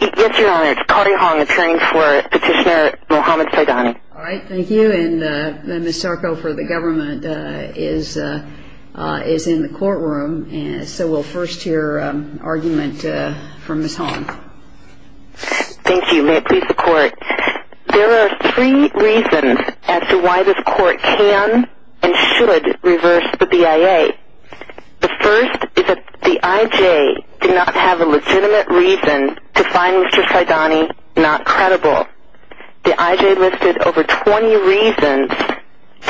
Yes, Your Honor. It's Claudia Hong, appearing for Petitioner Mohamed Saidani. All right. Thank you. And Ms. Sarko for the government is in the courtroom. So we'll first hear an argument from Ms. Hong. Thank you. May it please the Court. There are three reasons as to why this Court can and should reverse the BIA. The first is that the I.J. did not have a legitimate reason to find Mr. Saidani not credible. The I.J. listed over 20 reasons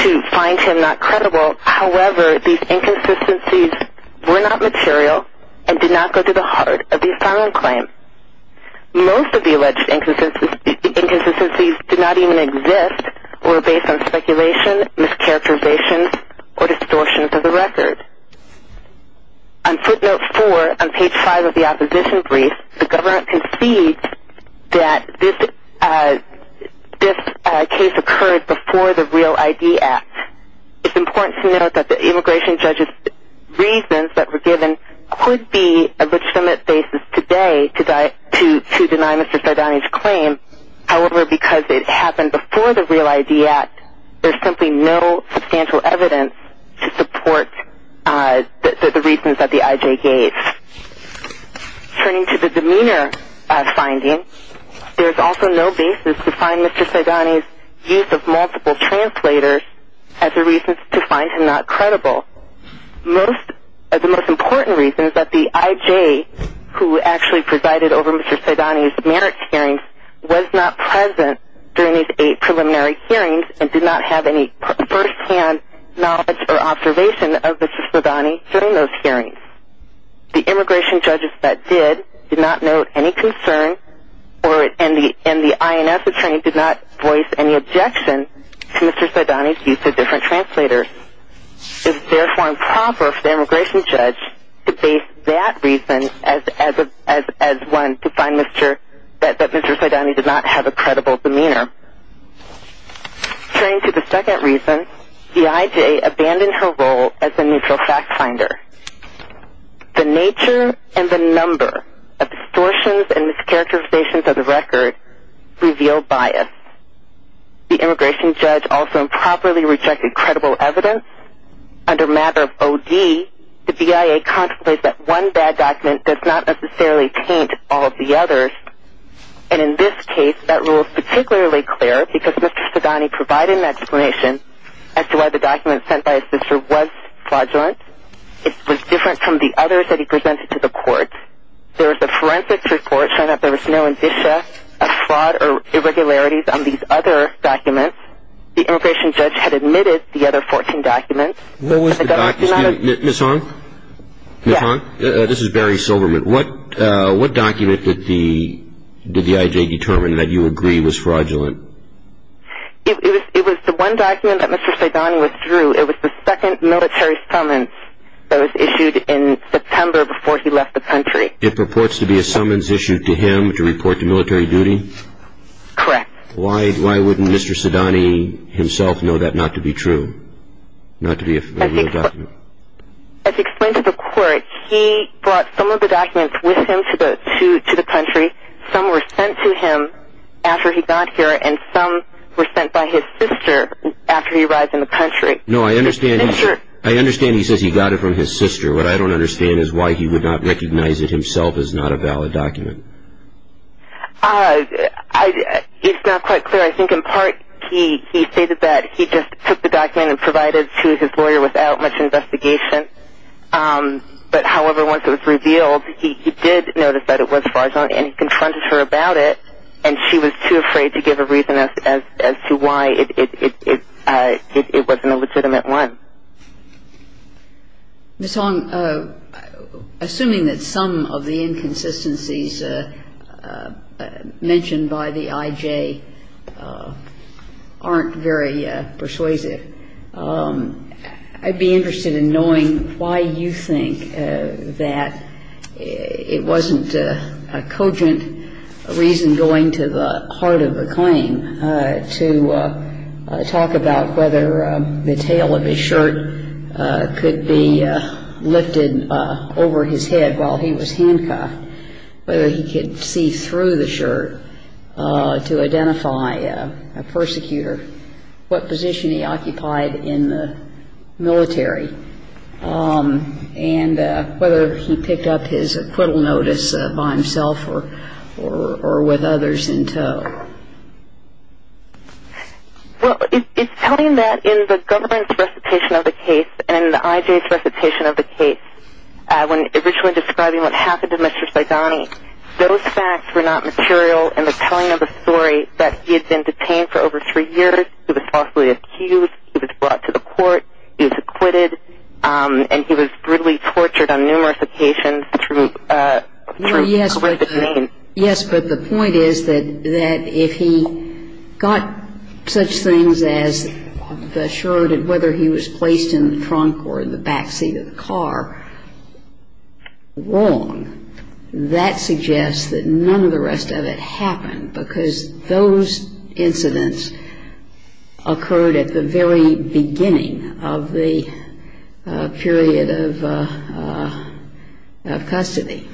to find him not credible. However, these inconsistencies were not material and did not go to the heart of the asylum claim. Most of the alleged inconsistencies did not even exist or were based on speculation, mischaracterizations, or distortions of the record. On footnote 4 on page 5 of the opposition brief, the government concedes that this case occurred before the REAL ID Act. It's important to note that the immigration judge's reasons that were given could be a legitimate basis today to deny Mr. Saidani's claim. However, because it happened before the REAL ID Act, there's simply no substantial evidence to support the reasons that the I.J. gave. Turning to the demeanor finding, there's also no basis to find Mr. Saidani's use of multiple translators as a reason to find him not credible. The most important reason is that the I.J., who actually presided over Mr. Saidani's marriage hearings, was not present during these 8 preliminary hearings and did not have any first-hand knowledge or observation of Mr. Saidani during those hearings. The immigration judges that did, did not note any concern and the I.N.S. attorney did not voice any objection to Mr. Saidani's use of different translators. It is therefore improper for the immigration judge to base that reason as one to find that Mr. Saidani did not have a credible demeanor. Turning to the second reason, the I.J. abandoned her role as the neutral fact finder. The nature and the number of distortions and mischaracterizations of the record revealed bias. The immigration judge also improperly rejected credible evidence. Under matter of O.D., the BIA contemplates that one bad document does not necessarily taint all of the others. And in this case, that rule is particularly clear because Mr. Saidani provided an explanation as to why the document sent by his sister was flaudulent. It was different from the others that he presented to the court. There was a forensics report showing that there was no indicia of fraud or irregularities on these other documents. The immigration judge had admitted the other 14 documents. What was the document? Excuse me, Ms. Hong? Yes. Ms. Hong, this is Barry Silverman. What document did the I.J. determine that you agree was fraudulent? It was the one document that Mr. Saidani withdrew. It was the second military summons that was issued in September before he left the country. It purports to be a summons issued to him to report to military duty? Correct. Why wouldn't Mr. Saidani himself know that not to be true, not to be a real document? As explained to the court, he brought some of the documents with him to the country. Some were sent to him after he got here and some were sent by his sister after he arrived in the country. No, I understand he says he got it from his sister. What I don't understand is why he would not recognize it himself as not a valid document. It's not quite clear. I think in part he stated that he just took the document and provided it to his lawyer without much investigation. But, however, once it was revealed, he did notice that it was fraudulent and he confronted her about it and she was too afraid to give a reason as to why it wasn't a legitimate one. Ms. Hong, assuming that some of the inconsistencies mentioned by the I.J. aren't very persuasive, I'd be interested in knowing why you think that it wasn't a cogent reason going to the heart of the claim to talk about whether the tail of his shirt could be lifted over his head while he was handcuffed, whether he could see through the shirt to identify a persecutor, what position he occupied in the military, and whether he picked up his acquittal notice by himself or with others in tow. Well, it's telling that in the government's recitation of the case and in the I.J.'s recitation of the case, when originally describing what happened to Mr. Saidani, those facts were not material in the telling of a story that he had been detained for over three years, he was falsely accused, he was brought to the court, he was acquitted, and he was brutally tortured on numerous occasions to correct his name. Yes, but the point is that if he got such things as the shirt whether he was placed in the trunk or in the back seat of the car wrong, that suggests that none of the rest of it happened, because those incidents occurred at the very beginning of the period of custody.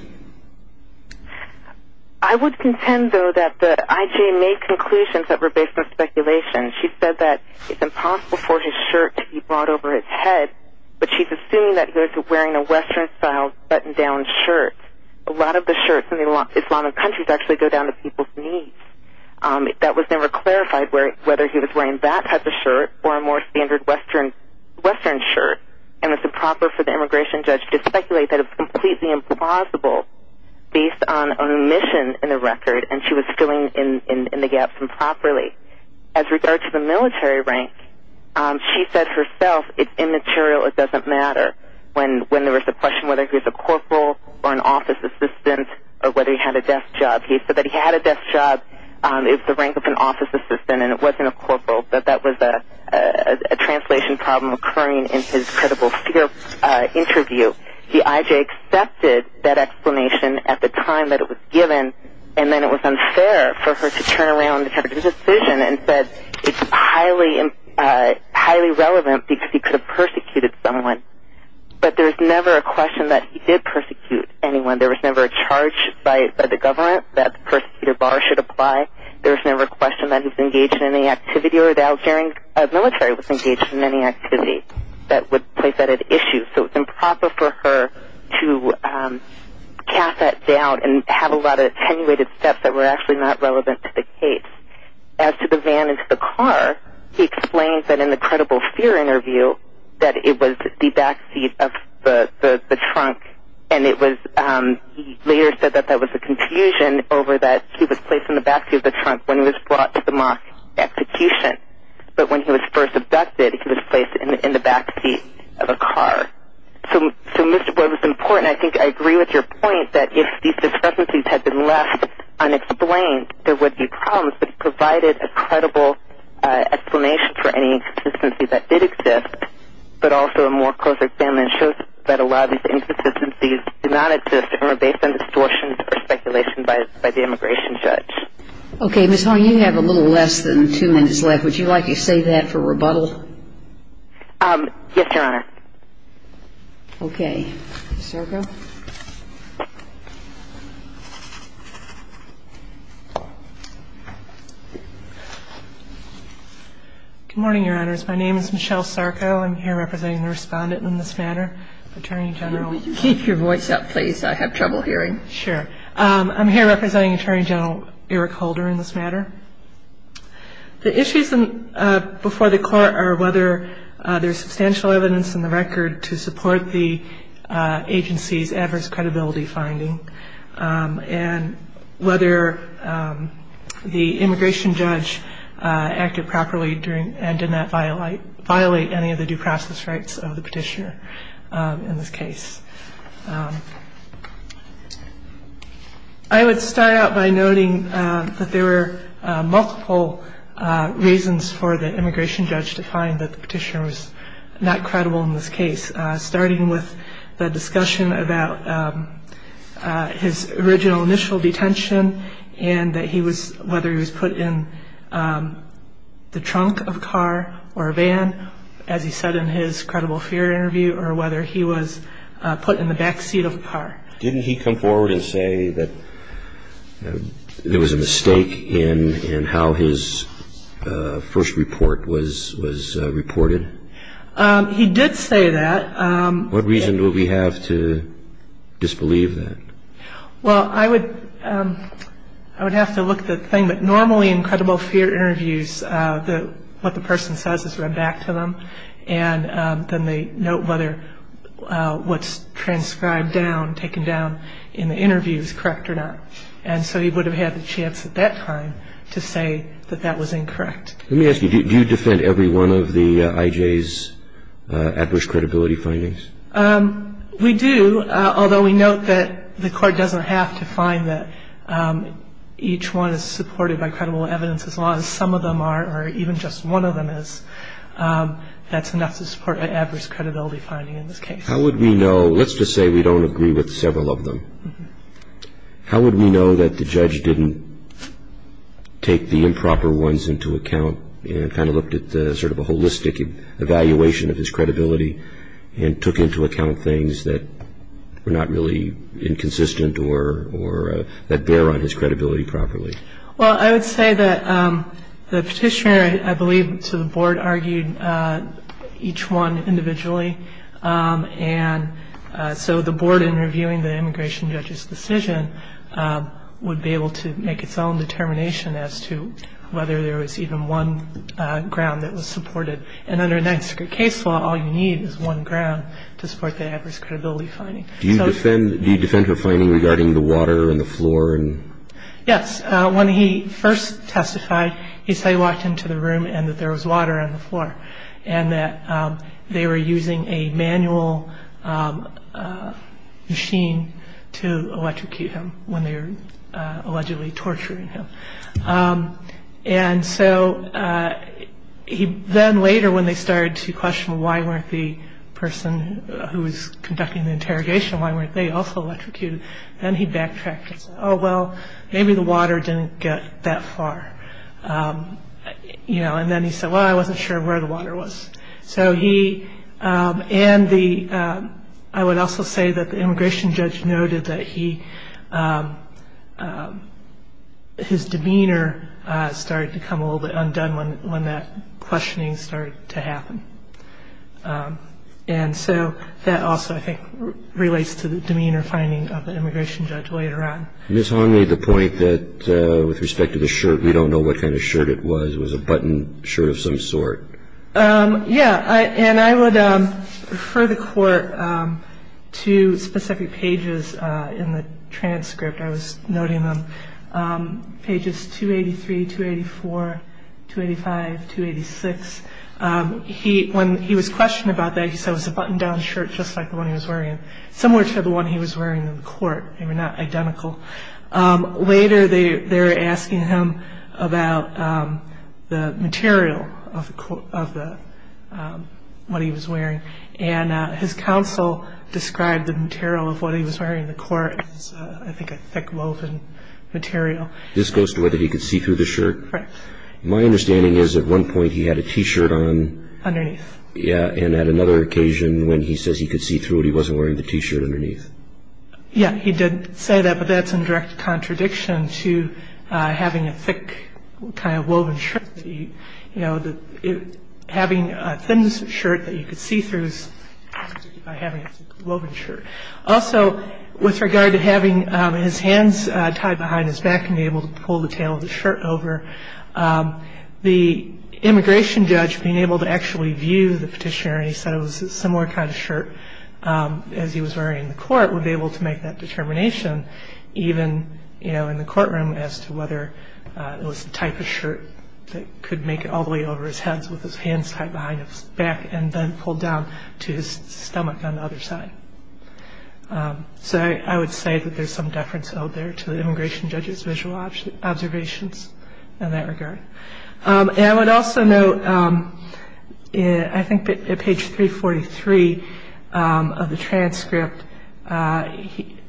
I would contend, though, that the I.J. made conclusions that were based on speculation. She said that it's impossible for his shirt to be brought over his head, but she's assuming that he was wearing a Western-style button-down shirt. A lot of the shirts in Islamic countries actually go down to people's knees. That was never clarified whether he was wearing that type of shirt or a more standard Western shirt, and it's improper for the immigration judge to speculate that it's completely implausible based on omission in the record, and she was filling in the gaps improperly. As regards to the military rank, she said herself it's immaterial, it doesn't matter. When there was a question whether he was a corporal or an office assistant or whether he had a desk job, he said that he had a desk job. It's the rank of an office assistant, and it wasn't a corporal. That was a translation problem occurring in his credible fear interview. The I.J. accepted that explanation at the time that it was given, and then it was unfair for her to turn around and have a decision and said it's highly relevant because he could have persecuted someone. But there was never a question that he did persecute anyone. There was never a charge by the government that the persecutor bar should apply. There was never a question that he was engaged in any activity or the Algerian military was engaged in any activity that would place that at issue. So it's improper for her to cap that down and have a lot of attenuated steps that were actually not relevant to the case. As to the van and to the car, he explained that in the credible fear interview that it was the backseat of the trunk, and he later said that that was a confusion over that he was placed in the backseat of the trunk when he was brought to the mosque execution, but when he was first abducted, he was placed in the backseat of a car. So what was important, I think I agree with your point, that if these discrepancies had been left unexplained, there would be problems. But he provided a credible explanation for any inconsistencies that did exist, but also a more close examination shows that a lot of these inconsistencies did not exist and were based on distortions or speculation by the immigration judge. Okay, Ms. Harney, you have a little less than two minutes left. Would you like to save that for rebuttal? Yes, Your Honor. Okay. Ms. Sarko? Good morning, Your Honors. My name is Michelle Sarko. I'm here representing the respondent in this matter. Attorney General, keep your voice up, please. I have trouble hearing. Sure. I'm here representing Attorney General Eric Holder in this matter. The issues before the court are whether there's substantial evidence in the record to support the agency's adverse credibility finding and whether the immigration judge acted properly and did not violate any of the due process rights of the petitioner in this case. I would start out by noting that there were multiple reasons for the immigration judge to find that the petitioner was not credible in this case, starting with the discussion about his original initial detention and whether he was put in the trunk of a car or a van, as he said in his credible fear interview, or whether he was put in the back seat of a car. Didn't he come forward and say that there was a mistake in how his first report was reported? He did say that. What reason do we have to disbelieve that? Well, I would have to look at the thing, but normally in credible fear interviews, what the person says is read back to them, and then they note whether what's transcribed down, taken down in the interview is correct or not. And so he would have had the chance at that time to say that that was incorrect. Let me ask you, do you defend every one of the IJ's adverse credibility findings? We do, although we note that the court doesn't have to find that each one is supported by credible evidence, as long as some of them are or even just one of them is, that's enough to support an adverse credibility finding in this case. How would we know? Let's just say we don't agree with several of them. How would we know that the judge didn't take the improper ones into account and kind of looked at sort of a holistic evaluation of his credibility and took into account things that were not really inconsistent or that bear on his credibility properly? Well, I would say that the petitioner, I believe, to the board, argued each one individually. And so the board, in reviewing the immigration judge's decision, would be able to make its own determination as to whether there was even one ground that was supported. And under the Ninth Secret Case Law, all you need is one ground to support the adverse credibility finding. Do you defend her finding regarding the water on the floor? Yes. When he first testified, he said he walked into the room and that there was water on the floor and that they were using a manual machine to electrocute him when they were allegedly torturing him. And so then later when they started to question why weren't the person who was conducting the interrogation, why weren't they also electrocuted, then he backtracked and said, oh, well, maybe the water didn't get that far. And then he said, well, I wasn't sure where the water was. And I would also say that the immigration judge noted that his demeanor started to come a little bit undone when that questioning started to happen. And so that also, I think, relates to the demeanor finding of the immigration judge later on. Ms. Hahn made the point that with respect to the shirt, we don't know what kind of shirt it was. It was a buttoned shirt of some sort. Yeah. And I would refer the Court to specific pages in the transcript. I was noting them, pages 283, 284, 285, 286. When he was questioned about that, he said it was a buttoned-down shirt just like the one he was wearing, similar to the one he was wearing in court. They were not identical. Later, they were asking him about the material of what he was wearing. And his counsel described the material of what he was wearing in the court as, I think, a thick woven material. This goes to whether he could see through the shirt? Correct. My understanding is at one point he had a T-shirt on. Underneath. Yeah. And at another occasion when he says he could see through it, he wasn't wearing the T-shirt underneath. Yeah, he did say that, but that's in direct contradiction to having a thick kind of woven shirt. You know, having a thin shirt that you could see through is contradicted by having a thick woven shirt. Also, with regard to having his hands tied behind his back and being able to pull the tail of the shirt over, the immigration judge, being able to actually view the petitioner, and he said it was a similar kind of shirt as he was wearing in the court, would be able to make that determination, even in the courtroom, as to whether it was the type of shirt that could make it all the way over his head with his hands tied behind his back and then pulled down to his stomach on the other side. So I would say that there's some deference owed there to the immigration judge's visual observations in that regard. And I would also note, I think at page 343 of the transcript,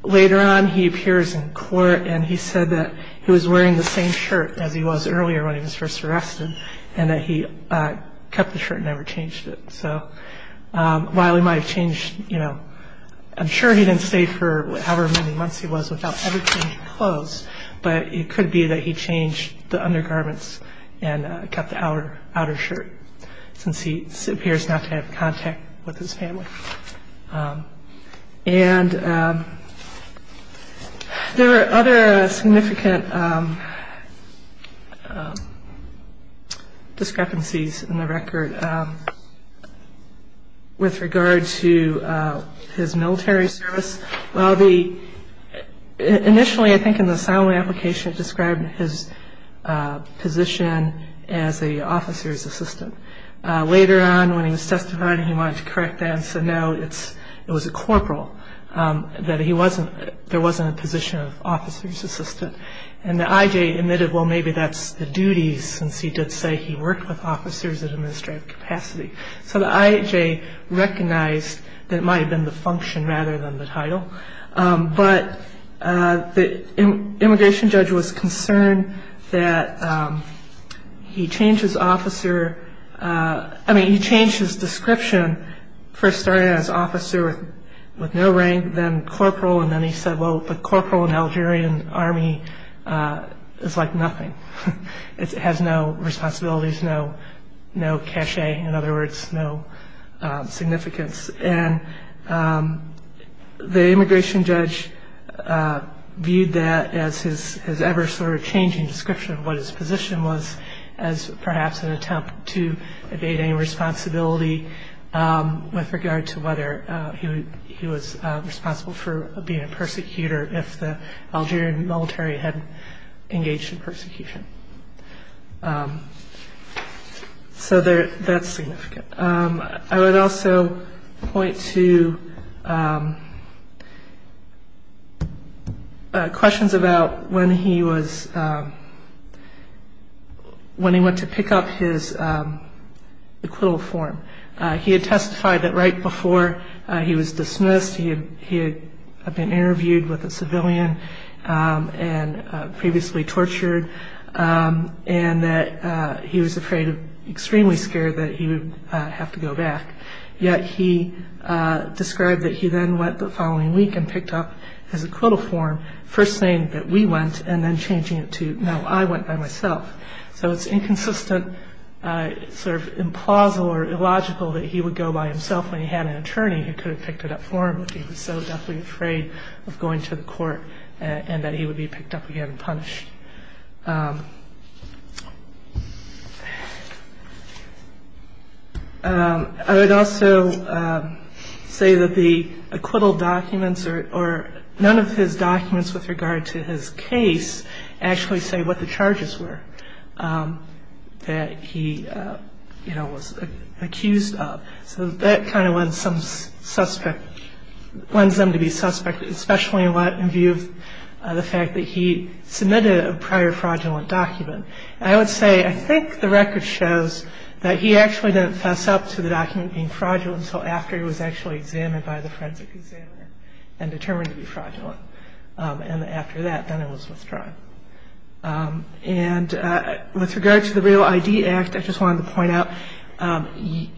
later on he appears in court and he said that he was wearing the same shirt as he was earlier when he was first arrested and that he kept the shirt and never changed it. So while he might have changed, you know, I'm sure he didn't stay for however many months he was without ever changing clothes, but it could be that he changed the undergarments and kept the outer shirt, since he appears not to have contact with his family. And there are other significant discrepancies in the record with regard to his military service. Initially, I think in the asylum application, it described his position as an officer's assistant. Later on, when he was testifying, he wanted to correct that and said no, it was a corporal, that there wasn't a position of officer's assistant. And the IJ admitted, well, maybe that's the duties, since he did say he worked with officers at administrative capacity. So the IJ recognized that it might have been the function rather than the title. But the immigration judge was concerned that he changed his description, first started out as officer with no rank, then corporal, and then he said, well, the corporal in the Algerian army is like nothing. It has no responsibilities, no cachet, in other words, no significance. And the immigration judge viewed that as his ever-changing description of what his position was as perhaps an attempt to evade any responsibility with regard to whether he was responsible for being a persecutor or if the Algerian military had engaged in persecution. So that's significant. I would also point to questions about when he went to pick up his acquittal form. He had testified that right before he was dismissed, he had been interviewed with a civilian and previously tortured, and that he was afraid, extremely scared, that he would have to go back. Yet he described that he then went the following week and picked up his acquittal form, first saying that we went and then changing it to, no, I went by myself. So it's inconsistent, sort of implausible or illogical that he would go by himself when he had an attorney who could have picked it up for him, but he was so deftly afraid of going to the court and that he would be picked up again and punished. I would also say that the acquittal documents or none of his documents with regard to his case actually say what the charges were that he was accused of. So that kind of lends them to be suspect, especially in view of the fact that he submitted a prior fraudulent document. I would say I think the record shows that he actually didn't fess up to the document being fraudulent until after he was actually examined by the forensic examiner and determined to be fraudulent. And after that, then it was withdrawn. And with regard to the Real ID Act, I just wanted to point out,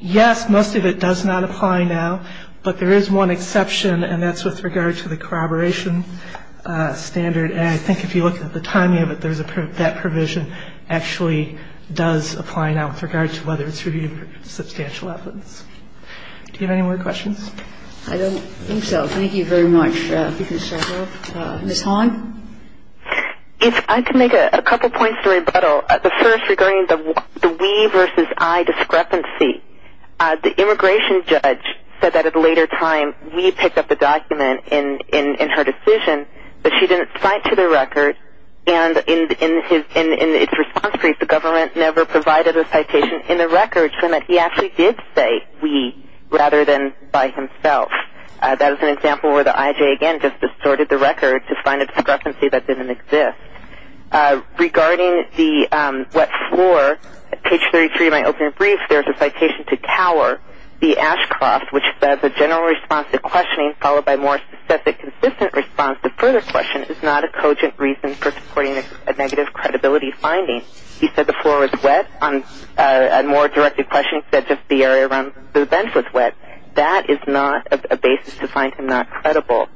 yes, most of it does not apply now, but there is one exception, and that's with regard to the corroboration standard. And I think if you look at the timing of it, that provision actually does apply now with regard to whether it's reviewed for substantial evidence. Do you have any more questions? I don't think so. Thank you very much for your time. If I could make a couple points to rebuttal. The first, regarding the we versus I discrepancy, the immigration judge said that at a later time we picked up the document in her decision, but she didn't cite to the record. And in its response brief, the government never provided a citation in the record saying that he actually did say we rather than by himself. That is an example where the IJ, again, just distorted the record to find a discrepancy that didn't exist. Regarding the wet floor, page 33 of my opening brief, there's a citation to Tower v. Ashcroft, which says the general response to questioning, followed by more specific consistent response to further question, is not a cogent reason for supporting a negative credibility finding. He said the floor was wet. On a more directed question, he said just the area around the bench was wet. That is not a basis to find him not credible.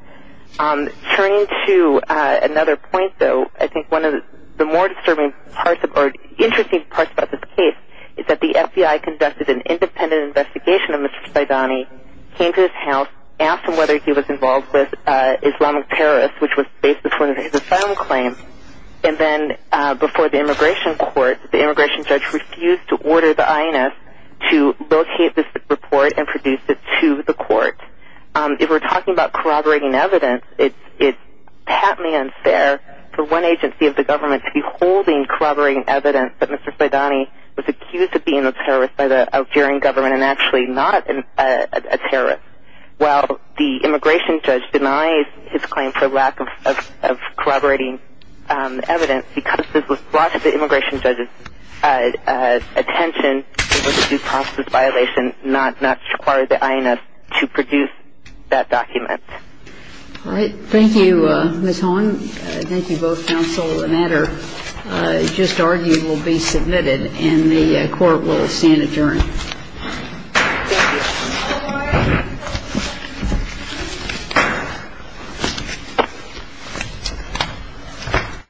Turning to another point, though, I think one of the more disturbing parts or interesting parts about this case is that the FBI conducted an independent investigation of Mr. Saidani, came to his house, asked him whether he was involved with Islamic terrorists, which was based before his asylum claim, and then before the immigration court, the immigration judge refused to order the INS to locate this report and produce it to the court. If we're talking about corroborating evidence, it's patently unfair for one agency of the government to be holding corroborating evidence that Mr. Saidani was accused of being a terrorist by the Algerian government and actually not a terrorist, while the immigration judge denies his claim for lack of corroborating evidence because this was brought to the immigration judge's attention as a due process violation, not to require the INS to produce that document. All right. Thank you, Ms. Hahn. Thank you both, counsel and editor. It's just argued will be submitted and the court will stand adjourned. Thank you.